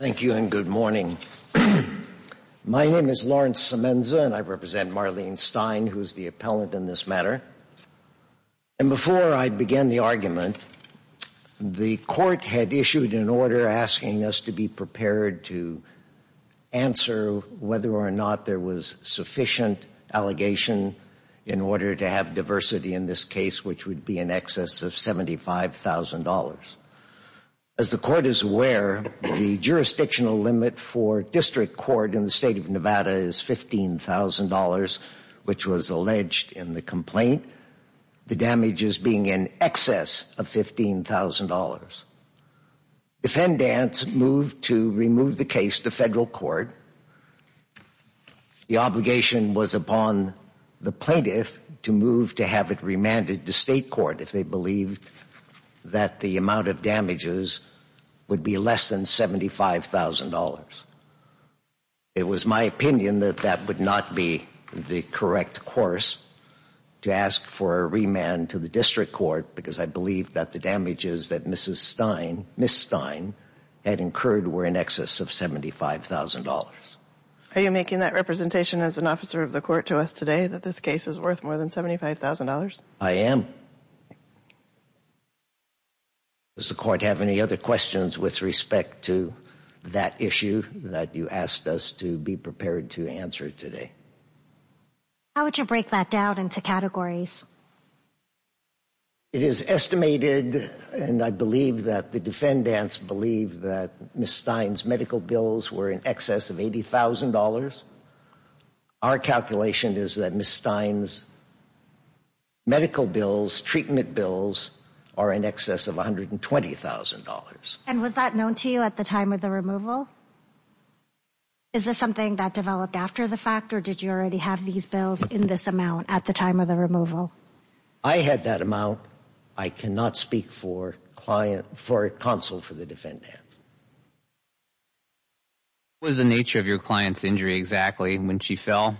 Thank you and good morning. My name is Lawrence Semenza and I represent Marlene Stein who's the appellant in this matter. And before I begin the argument, the court had issued an order asking us to be prepared to answer whether or not there was sufficient allegation in order to have diversity in this case which would be in excess of $75,000. As the court is aware, the jurisdictional limit for district court in the state of Nevada is $15,000 which was alleged in the complaint. The damages being in excess of $15,000. Defendants moved to remove the case to federal court. The obligation was upon the plaintiff to move to have it remanded to state court if they believed that the amount of damages would be less than $75,000. It was my opinion that that would not be the correct course to ask for a remand to the district court because I believe that the damages that Mrs. Stein, Ms. Stein had incurred were in excess of $75,000. Are you making that representation as an officer of the $75,000? I am. Does the court have any other questions with respect to that issue that you asked us to be prepared to answer today? How would you break that down into categories? It is estimated and I believe that the defendants believe that Ms. Stein's medical bills were in excess of $80,000. Our calculation is that Ms. Stein's medical bills, treatment bills are in excess of $120,000. And was that known to you at the time of the removal? Is this something that developed after the fact or did you already have these bills in this amount at the time of the removal? I had that amount. I cannot speak for client, for counsel for the defendant. What was the nature of your client's injury exactly when she fell?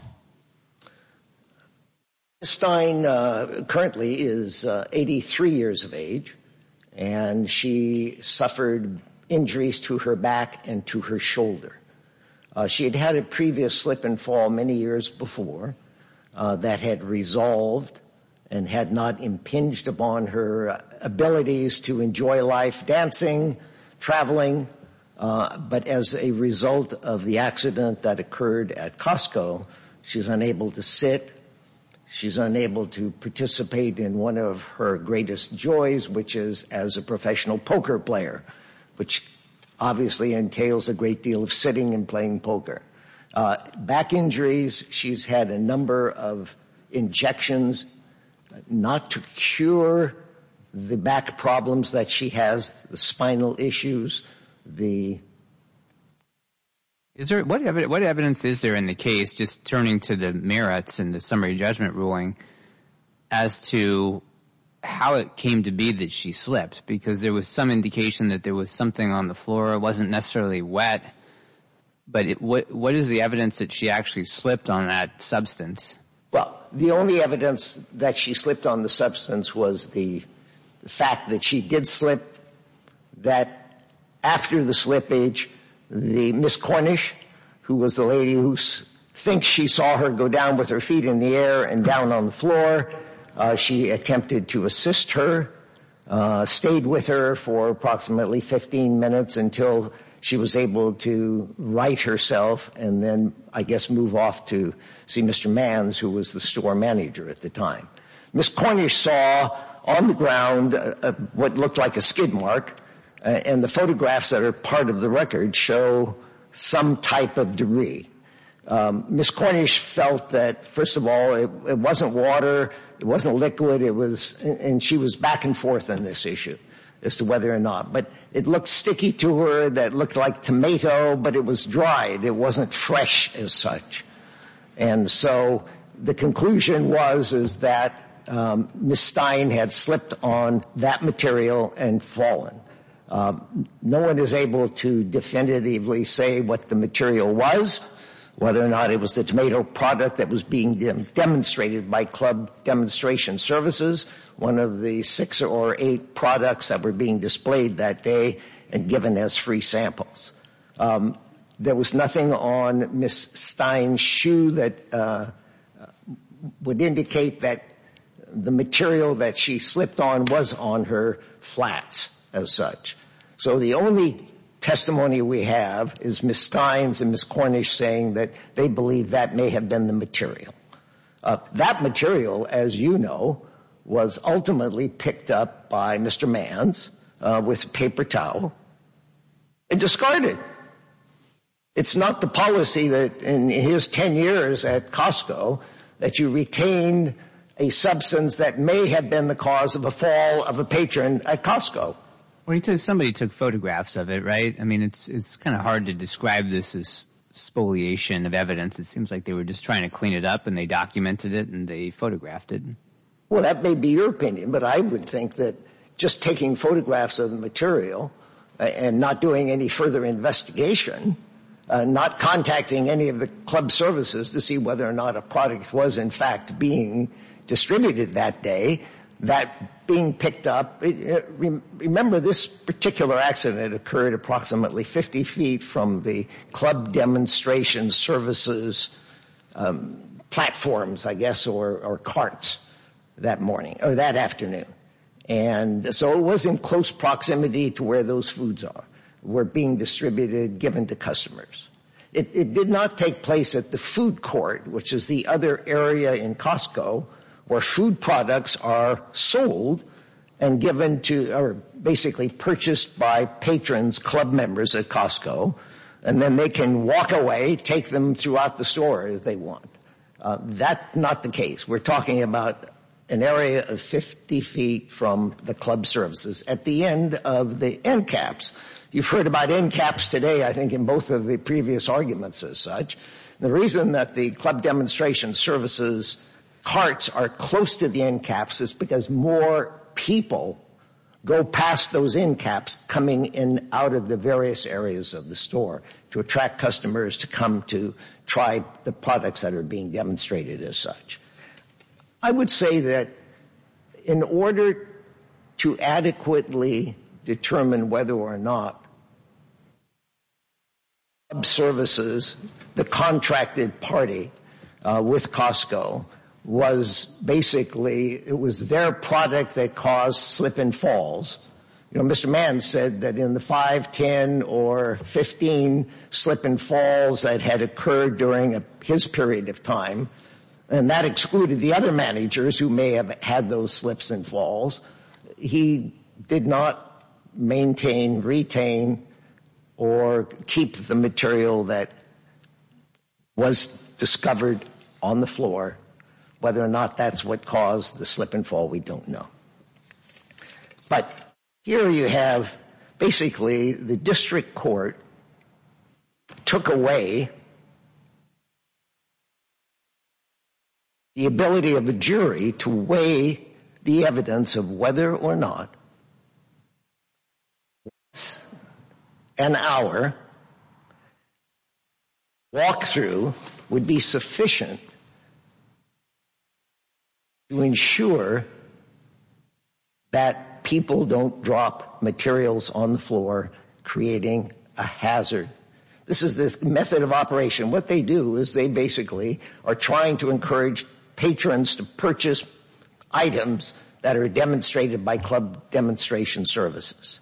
Ms. Stein currently is 83 years of age and she suffered injuries to her back and to her shoulder. She had had a previous slip and fall many years before that had resolved and had not impinged upon her abilities to enjoy life, dancing, traveling. But as a result of the accident that occurred at Costco, she's unable to sit, she's unable to participate in one of her greatest joys which is as a professional poker player, which obviously entails a great deal of sitting and playing poker. Back injuries, she's had a number of injections not to sure the back problems that she has, the spinal issues, the... What evidence is there in the case, just turning to the merits and the summary judgment ruling, as to how it came to be that she slipped? Because there was some indication that there was something on the floor, it wasn't necessarily wet, but what is the evidence that she actually slipped on that substance? Well, the only evidence that she slipped on the substance was the fact that she did slip, that after the slippage, the Ms. Cornish, who was the lady who thinks she saw her go down with her feet in the air and down on the floor, she attempted to assist her, stayed with her for approximately 15 minutes until she was able to right herself and then, I guess, move off to see Mr. Manns, who was the store manager at the time. Ms. Cornish saw on the ground what looked like a skid mark and the photographs that are part of the record show some type of debris. Ms. Cornish felt that, first of all, it wasn't water, it wasn't liquid, it was... And she was back and forth on this issue as to whether or not, but it looked sticky to her, that looked like tomato, but it was dry, it wasn't fresh as such. And so the conclusion was, is that Ms. Stein had slipped on that material and fallen. No one is able to definitively say what the material was, whether or not it was the tomato product that was being demonstrated by Club Demonstration Services, one of the six or eight products that were being displayed that day and given as free samples. There was nothing on Ms. Stein's shoe that would indicate that the material that she slipped on was on her flats as such. So the only testimony we have is Ms. Stein's and Ms. Cornish saying that they believe that may have been the material. That material, as you know, was ultimately picked up by Mr. Manns with paper towel and discarded. It's not the policy that in his 10 years at Costco that you retain a substance that may have been the cause of a fall of a patron at Costco. Somebody took photographs of it, right? I it seems like they were just trying to clean it up and they documented it and they photographed it. Well, that may be your opinion, but I would think that just taking photographs of the material and not doing any further investigation, not contacting any of the club services to see whether or not a product was in fact being distributed that day, that being picked up, remember this particular accident occurred approximately 50 feet from the club demonstration services platforms, I guess, or carts that morning or that afternoon. And so it was in close proximity to where those foods were being distributed, given to customers. It did not take place at the food court, which is the other area in Costco where food products are sold and given to, or basically purchased by patrons, club members at Costco, and then they can walk away, take them throughout the store if they want. That's not the case. We're talking about an area of 50 feet from the club services at the end of the end caps. You've heard about end caps today, I think, in both of the previous arguments as such. The reason that the club demonstration services carts are close to the end caps is because more people go past those end caps coming in out of the various areas of the store to attract customers to come to try the products that are being demonstrated as such. I would say that in order to adequately determine whether or not club services, the contracted party with Costco, was basically, it was their product that caused slip and falls. You know, Mr. Mann said that in the 5, 10, or 15 slip and falls that had occurred during his period of time, and that excluded the other managers who may have had those slips and falls, he did not maintain, retain, or keep the material that was discovered on the floor, whether or not that's what caused the slip and fall, we don't know. But here you have basically the district court took away the ability of a jury to weigh the evidence of whether or not an hour walk-through would be sufficient to ensure that people don't drop materials on the floor, creating a hazard. This is this method of operation. What they do is they basically are trying to encourage patrons to purchase items that are demonstrated by club demonstration services.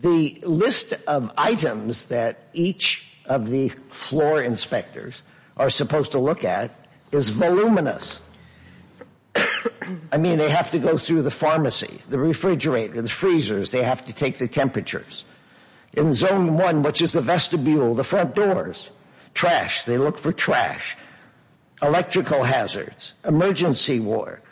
The list of items that each of the floor inspectors are supposed to look at is voluminous. I mean, they have to go through the pharmacy, the refrigerator, the freezers, they have to take the temperatures. In zone one, which is the vestibule, the front doors, trash, they look for trash, electrical hazards, emergency wards,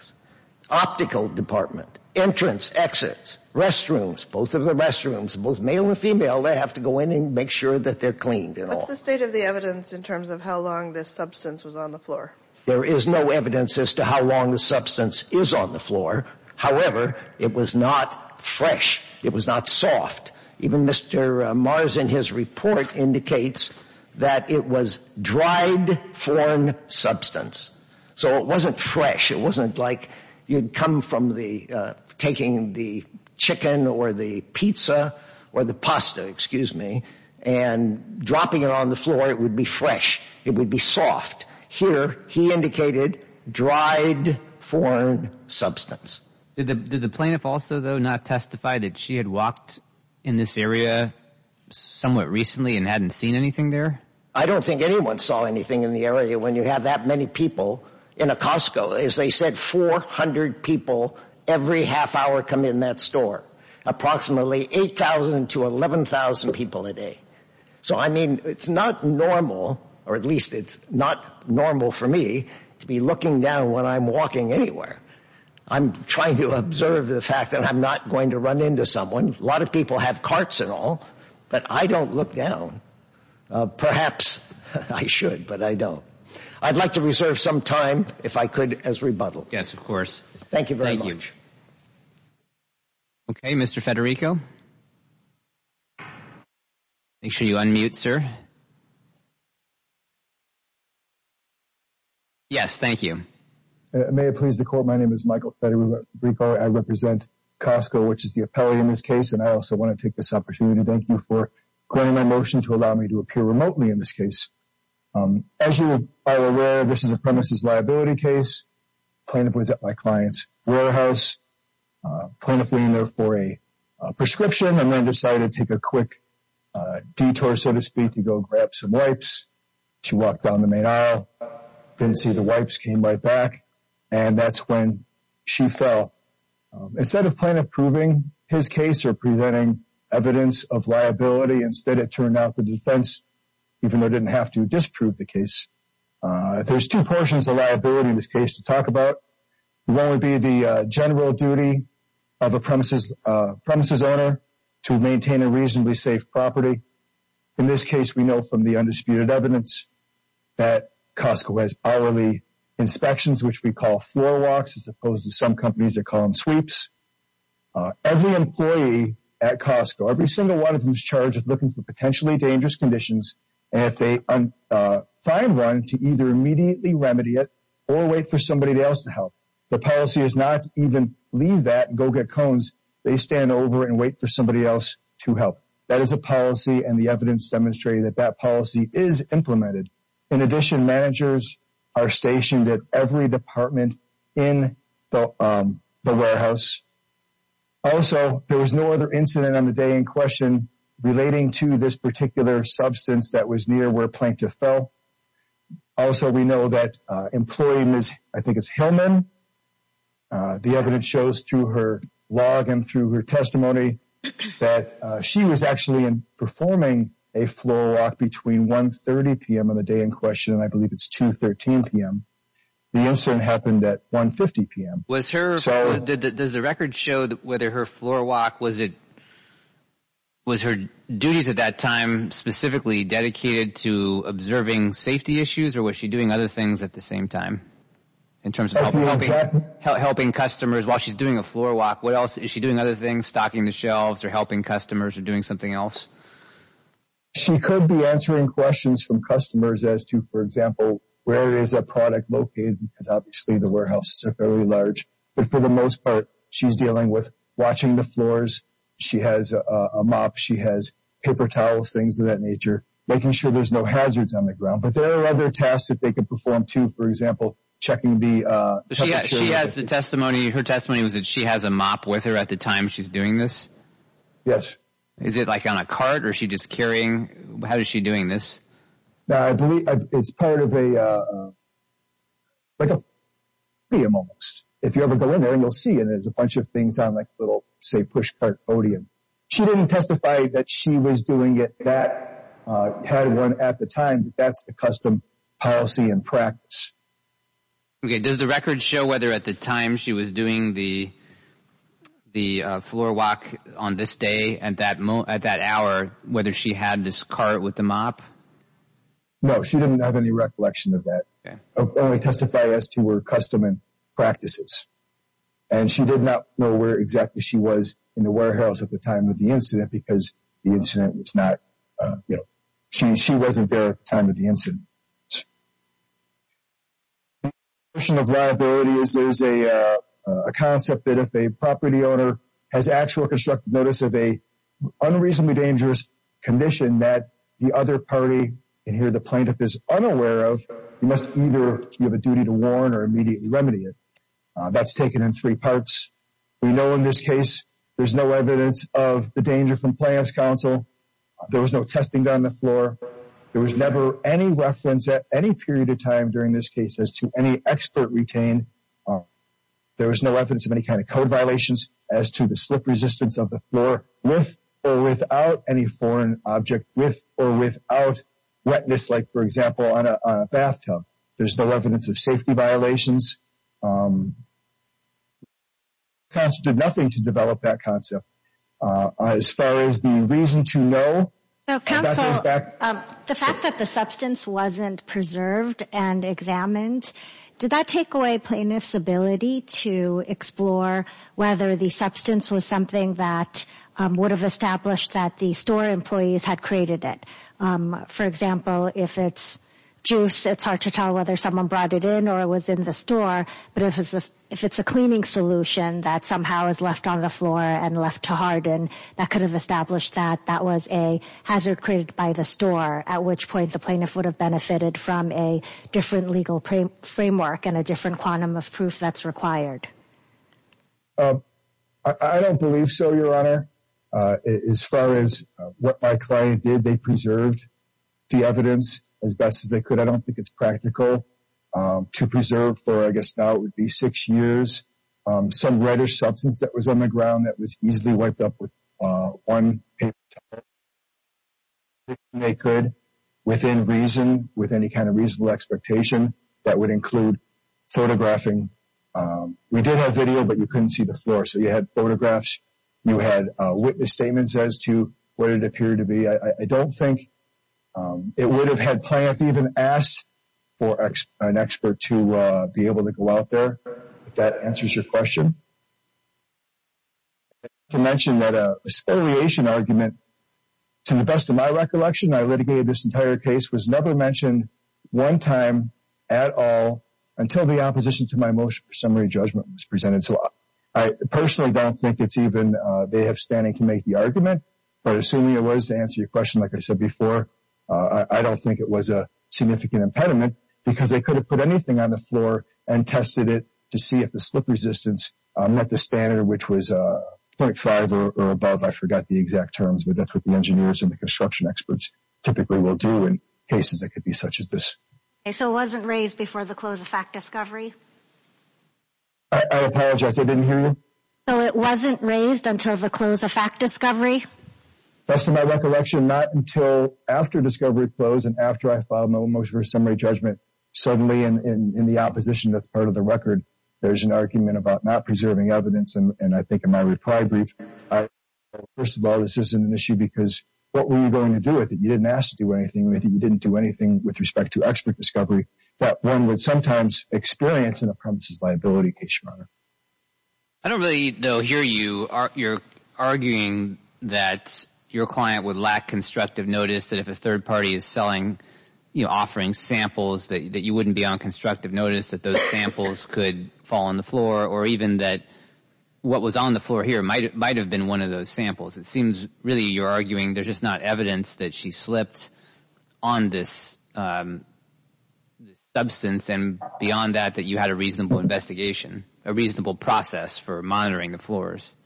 optical department, entrance, exits, restrooms, both of the restrooms, both male and female, they have to go in and make sure that they're cleaned and all. What's the state of the evidence in terms of how long this substance was on the floor? There is no evidence as to how long the substance is on the floor, however, it was not fresh, it was not soft. Even Mr. Mars in his report indicates that it was dried foreign substance. So it wasn't fresh, it wasn't like you'd come from taking the chicken or the pizza or the pasta, excuse me, and dropping it on the floor, it would be fresh, it would be soft. Here, he indicated dried foreign substance. Did the plaintiff also, though, not testify that she had walked in this area somewhat recently and hadn't seen anything there? I don't think anyone saw anything in the area when you have that many people in a Costco. As they said, 400 people every half hour come in that store. Approximately 8,000 to 11,000 people a day. So, I mean, it's not normal, or at least it's not normal for me to be looking down when I'm walking anywhere. I'm trying to observe the fact that I'm not going to run into someone. A lot of people have carts and all, but I don't look down. Perhaps I should, but I don't. I'd like to reserve some time, if I could, as rebuttal. Yes, of course. Thank you very much. Okay, Mr. Federico. Make sure you unmute, sir. Yes, thank you. May it please the Court, my name is Michael Federico. I represent Costco, which is the appellee in this case, and I also want to take this opportunity to thank you for claiming my motion to allow me to appear remotely in this case. As you are aware, this is a premises liability case. The plaintiff was at my client's warehouse. The plaintiff went in there for a prescription and then decided to take a quick detour, so to speak, to go grab some wipes. She walked down the main aisle, didn't see the wipes, came right back, and that's when she fell. Instead of plaintiff proving his case or presenting evidence of liability, instead it turned out the defense, even though it didn't have to disprove the case. There's two portions of liability in this case to talk about. One would be the general maintain a reasonably safe property. In this case, we know from the undisputed evidence that Costco has hourly inspections, which we call floor walks, as opposed to some companies that call them sweeps. Every employee at Costco, every single one of them is charged with looking for potentially dangerous conditions, and if they find one, to either immediately remedy it or wait for somebody else to help. The policy is not even leave that and go get cones. They stand over and wait for somebody else to help. That is a policy, and the evidence demonstrated that that policy is implemented. In addition, managers are stationed at every department in the warehouse. Also, there was no other incident on the day in question relating to this particular substance that was near where plaintiff fell. Also, we know that employee Ms. Hillman, the evidence shows through her log and through her testimony that she was actually performing a floor walk between 1 30 p.m. on the day in question and I believe it's 2 13 p.m. The incident happened at 1 50 p.m. Does the record show that whether her floor walk, was her duties at that time specifically dedicated to observing safety issues, or was she doing other things at the same time? In terms of helping customers while she's doing a floor walk, what else is she doing? Other things? Stocking the shelves, or helping customers, or doing something else? She could be answering questions from customers as to, for example, where is a product located? Because obviously the warehouses are fairly large, but for the most part she's dealing with watching the floors. She has a mop, she has paper towels, things of that nature, making sure there's no hazards on the ground. But there are other tasks that they could perform too, for example, checking the... She has the testimony, her testimony was that she has a mop with her at the time she's doing this? Yes. Is it like on a cart, or is she just carrying, how is she doing this? I believe it's part of a, like a podium, almost. If you ever go in there and you'll see it, it's a bunch of things on like little, say, push cart podium. She didn't testify that she was doing it, that had one at the time, but that's the custom policy and practice. Okay, does the record show whether at the time she was doing the the floor walk on this day, and at that hour, whether she had this cart with the mop? No, she didn't have any recollection of that. Only testified as to her custom and practices. And she did not know where exactly she was in the warehouse at the time of the incident, because the incident was not, you know, she wasn't there at the time of the incident. The notion of liability is there's a concept that if a property owner has actual constructive notice of a unreasonably dangerous condition that the other party, and here the plaintiff is unaware of, you must either have a duty to warn or immediately remedy it. That's taken in three parts. We know in this case there's no evidence of the danger from Plaintiff's Counsel. There was no testing done on the floor. There was never any reference at any period of time during this case as to any expert retained. There was no evidence of any kind of code violations as to the slip resistance of the floor with or without any foreign object, with or without wetness, like for example on a bathtub. There's no evidence of safety violations. Counsel did nothing to develop that concept. As far as the reason to know. The fact that the substance wasn't preserved and examined, did that take away plaintiff's ability to explore whether the substance was something that would have established that the store employees had created it? For example, if it's juice it's hard to tell whether someone brought it in or it was in the store, but if it's a cleaning solution that somehow is left on the floor and left to harden, that could have established that that was a hazard created by the store, at which point the plaintiff would have benefited from a different legal framework and a different quantum of proof that's required. I don't believe so, your honor. As far as what my client did, they preserved the evidence as best as they could. I don't think it's practical to preserve for, I guess now it would be six years, some reddish substance that was on the ground that was easily wiped up with one paper towel, as best they could, within reason, with any kind of reasonable expectation, that would include photographing. We did have video but you couldn't see the floor, so you had photographs, you had witness statements as to what it appeared to be. I don't think it would have had I may have even asked for an expert to be able to go out there, if that answers your question. I'd like to mention that a spoliation argument, to the best of my recollection, I litigated this entire case, was never mentioned one time at all until the opposition to my motion for summary judgment was presented. So I personally don't think it's even, they have standing to make the argument, but assuming it was to answer your question, like I said before, I don't think it was a significant impediment because they could have put anything on the floor and tested it to see if the slip resistance met the standard, which was 0.5 or above, I forgot the exact terms, but that's what the engineers and the construction experts typically will do in cases that could be such as this. So it wasn't raised before the close of fact discovery? I apologize, I didn't hear you. So it wasn't raised until the close of fact discovery? Best of my recollection, not until after discovery closed and after I filed my motion for summary judgment, suddenly in the opposition that's part of the record, there's an argument about not preserving evidence and I think in my reply brief, first of all this isn't an issue because what were you going to do with it? You didn't ask to do anything, you didn't do anything with respect to expert discovery that one would sometimes experience in a premises liability case, Your Honor. I don't really, though, hear you, you're arguing that your client would lack constructive notice that if a third party is selling, you know, offering samples that you wouldn't be on constructive notice that those samples could fall on the floor or even that what was on the floor here might have been one of those samples. It seems really you're arguing there's just not evidence that she slipped on this substance and beyond that that you had a reasonable process for monitoring the floors.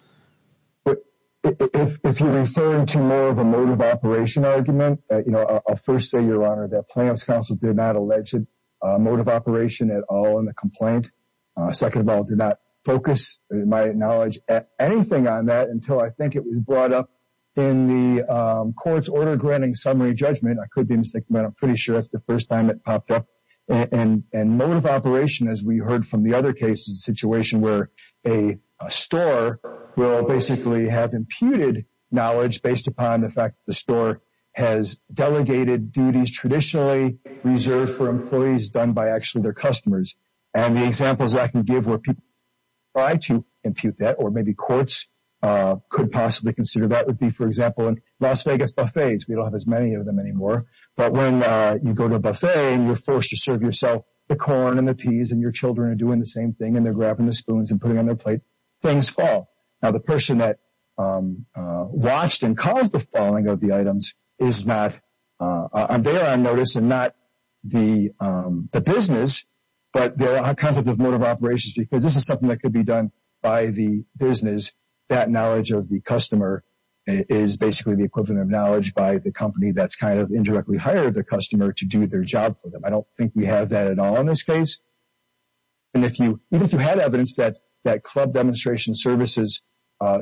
If you're referring to more of a motive operation argument, you know, I'll first say, Your Honor, that Plaintiffs' Counsel did not allege motive operation at all in the complaint. Second of all, did not focus, in my knowledge, anything on that until I think it was brought up in the court's order granting summary judgment. I could be mistaken, but I'm pretty sure that's the first time it popped up and motive operation, as we heard from the other cases, a situation where a store will basically have imputed knowledge based upon the fact that the store has delegated duties traditionally reserved for employees done by actually their customers. And the examples I can give where people try to impute that or maybe courts could possibly consider that would be, for example, in Las Vegas buffets. We don't have as many of them anymore, but when you go to a buffet and you're forced to serve yourself the corn and the peas and your children are doing the same thing and they're grabbing the spoons and putting on their plate, things fall. Now the person that watched and caused the falling of the items is not on their own notice and not the business, but there are kinds of motive operations because this is something that could be done by the business. That knowledge of the customer is basically the equivalent of knowledge by the company that's kind of indirectly hired the customer to do their job for them. I don't think we have that at all in this case. And even if you had evidence that club demonstration services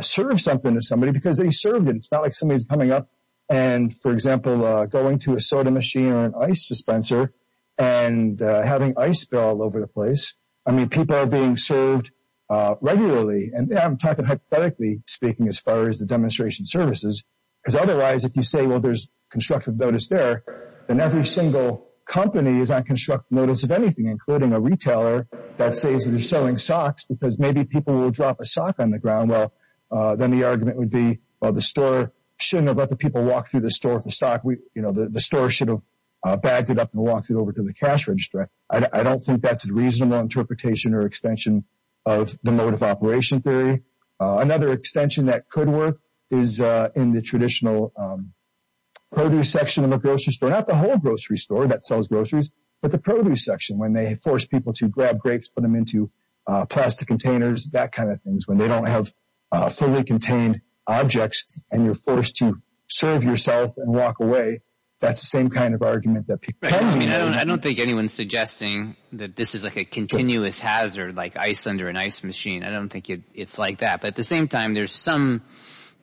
serve something to somebody because they served it. It's not like somebody's coming up and, for example, going to a soda machine or an ice dispenser and having ice all over the place. I mean people are being served regularly and I'm talking hypothetically speaking as far as the demonstration services because otherwise if you say well there's constructive notice there, then every single company is on constructive notice of anything including a retailer that says they're selling socks because maybe people will drop a sock on the ground. Well then the argument would be well the store shouldn't have let the people walk through the store with the stock. The store should have bagged it up and walked it over to the cash register. I don't think that's a reasonable interpretation or extension of the motive operation theory. Another extension that could work is in the traditional produce section of the grocery store. Not the whole grocery store that sells groceries, but the produce section when they force people to grab grapes, put them into plastic containers, that kind of things. When they don't have fully contained objects and you're forced to serve yourself and walk away, that's the same kind of argument that people come to you with. I don't think anyone's suggesting that this is like a continuous hazard like ice under an ice machine. I don't think it's like that. But at the same time there's some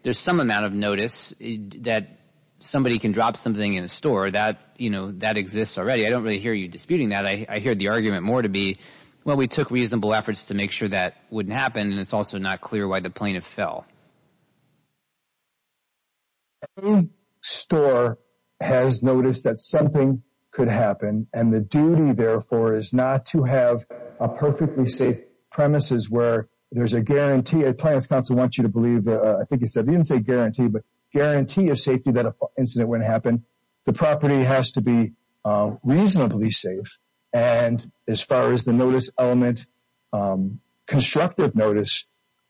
amount of notice that somebody can drop something in a store. That exists already. I don't really hear you disputing that. I hear the argument more to be, well we took reasonable efforts to make sure that wouldn't happen and it's also not clear why the plaintiff fell. Any store has noticed that something could happen and the duty therefore is not to have a perfectly safe premises where there's a guarantee. A Plaintiff's Counsel wants you to believe, I think he said, he didn't say guarantee, but guarantee of safety that an incident wouldn't happen. The property has to be reasonably safe and as far as the notice element, constructive notice,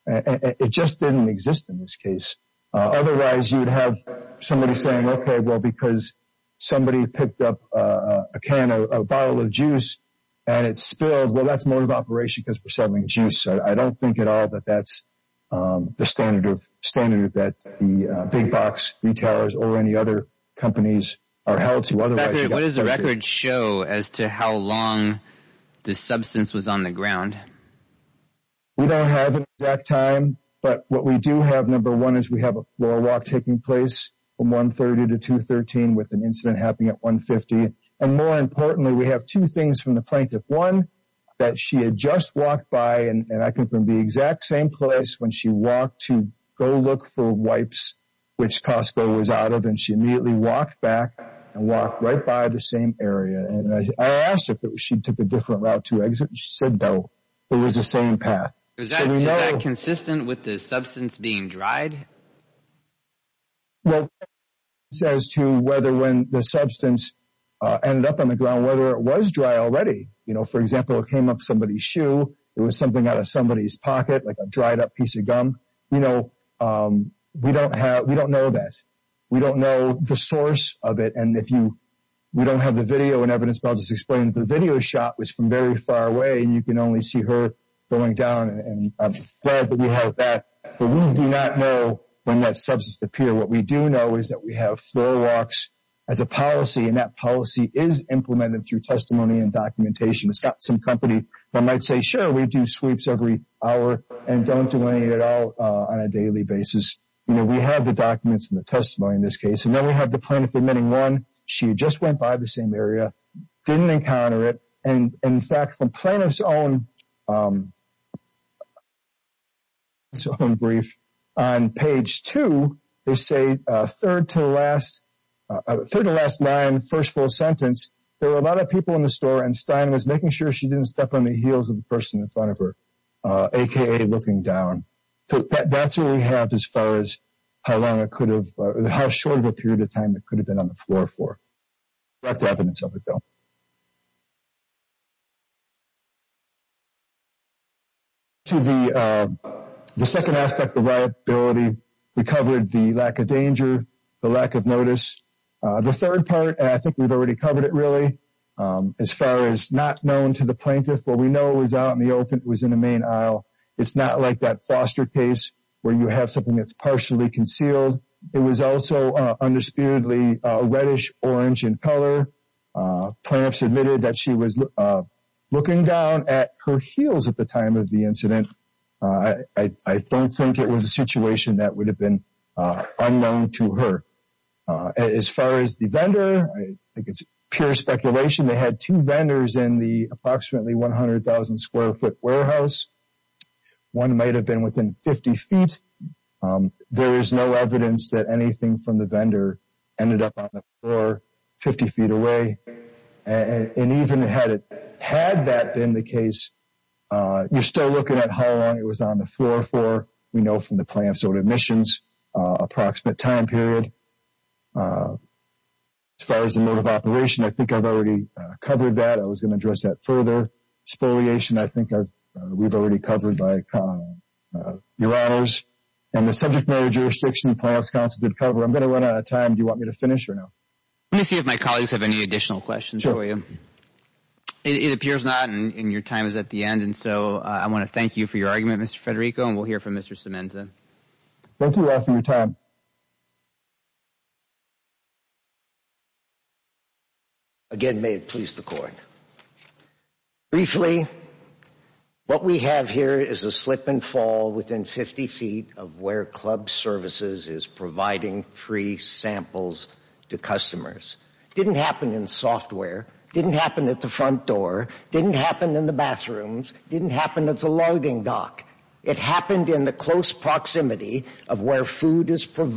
it just didn't exist in this case. Otherwise you'd have somebody saying, okay well because somebody picked up a can, a bottle of juice and it spilled, well that's motive operation because we're selling juice. I don't think at all that that's the standard of standard that the big box retailers or any other companies are held to. What does the record show as to how long the substance was on the ground? We don't have an exact time, but what we do have, number one, is we have a floor walk taking place from 130 to 213 with an incident happening at 150. And more importantly, we have two things from the Plaintiff. One, that she had just walked by and I think from the exact same place when she walked to go look for wipes which Costco was out of and she immediately walked back and walked right by the same area and I asked her if she took a different route to exit. She said no. It was the same path. Is that consistent with the substance being dried? Well, as to whether when the substance ended up on the ground, whether it was dry already. You know, for example, it came up somebody's shoe, it was something out of somebody's pocket, like a dried up piece of gum. You know, we don't have, we don't know that. We don't know the source of it and if you, we don't have the video and evidence, but I'll just explain that the video shot was from very far away and you can only see her going down and I've said that we have that, but we do not know when that substance appeared. What we do know is that we have floor walks as a policy and that policy is implemented through testimony and documentation. It's not some company that might say, sure, we do sweeps every hour and don't do any at all on a daily basis. You know, we have the documents and the testimony in this case and then we have the Plaintiff admitting one, she just went by the same area, didn't encounter it and in fact from Plaintiff's own brief on page two, they say third to last, third to last line, first full sentence, there were a lot of people in the store and Stein was making sure she didn't step on the heels of the person in front of her, aka looking down. So that's what we have as far as how long it could have, how short of a period of time it could have been on the floor for. That's evidence of it though. To the second aspect of liability, we covered the lack of danger, the lack of notice. The third part, I think we've already covered it really, as far as not known to the Plaintiff, what we know is out in the open, it was in the main aisle. It's not like that foster case where you have something that's partially concealed. It was also undisputedly reddish-orange in color. Plaintiff submitted that she was looking down at her heels at the time of the incident. I don't think it was a situation that would have been unknown to her. As far as the vendor, I think it's pure speculation. They had two vendors in the approximately 100,000 square foot warehouse. One might have been within 50 feet. There is no evidence that anything from the vendor ended up on the floor 50 feet away. And even had that been the case, you're still looking at how long it was on the floor for. We know from the Plaintiff's own admissions, approximate time period. As far as the mode of operation, I think I've already covered that. I was going to address that further. Spoliation, I think we've already covered by your honors. And the subject matter jurisdiction, the Plaintiff's counsel did cover. I'm going to run out of time. Do you want me to finish or no? Let me see if my colleagues have any additional questions for you. It appears not, and your time is at the end. And so I want to thank you for your argument, Mr. Federico, and we'll hear from Mr. Semenza. Thank you all for your time. Again, may it please the court. Briefly, what we have here is a slip and fall within 50 feet of where club services is providing free samples to customers. It didn't happen in software, didn't happen at the front door, didn't happen in the bathrooms, didn't happen at the logging dock. It happened in the close proximity of where food is for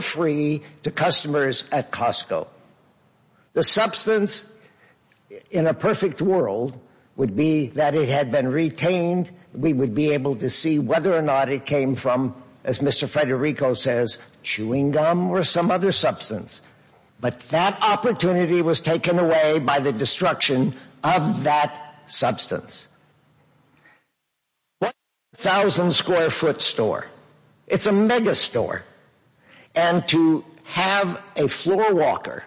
free to customers at Costco. The substance, in a perfect world, would be that it had been retained. We would be able to see whether or not it came from, as Mr. Federico says, chewing gum or some other substance. But that opportunity was taken away by the destruction of that substance. A 1,000-square-foot store, it's a megastore. And to have a floor walker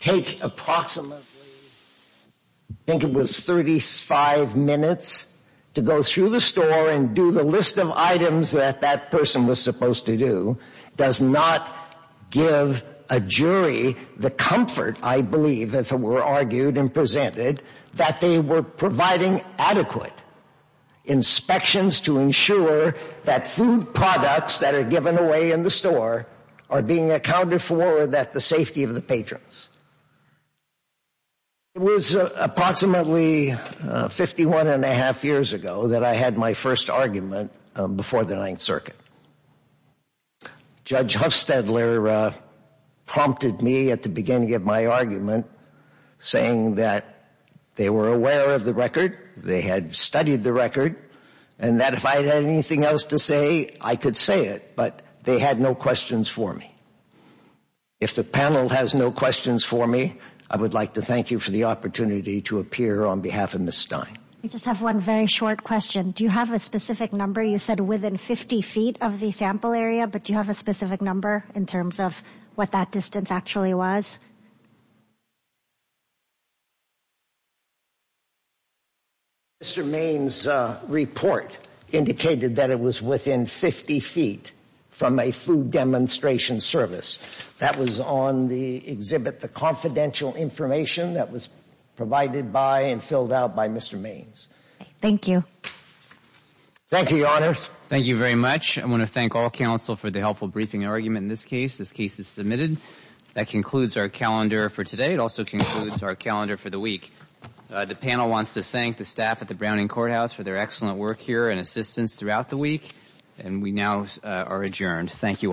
take approximately, I think it was 35 minutes, to go through the store and do the list of items that that person was supposed to do does not give a jury the comfort, I believe, if it were argued and presented, that they were providing a free sample. It is not adequate inspections to ensure that food products that are given away in the store are being accounted for that the safety of the patrons. It was approximately 51 and a half years ago that I had my first argument before the Ninth Circuit. Judge They had studied the record, and that if I had anything else to say, I could say it, but they had no questions for me. If the panel has no questions for me, I would like to thank you for the opportunity to appear on behalf of Ms. Stein. I just have one very short question. Do you have a specific number? You said within 50 feet of the sample area, but do you have a specific number in terms of what that distance actually was? Mr. Maine's report indicated that it was within 50 feet from a food demonstration service. That was on the exhibit, the confidential information that was provided by and filled out by Mr. Maine's. Thank you. Thank you, Your Honor. Thank you very much. I want to thank all counsel for the helpful briefing argument in this case. This case is submitted. That concludes our calendar for today. It also concludes our calendar for the week. The panel wants to thank the staff at the Browning Courthouse for their excellent work here and assistance throughout the week, and we now are adjourned. Thank you all.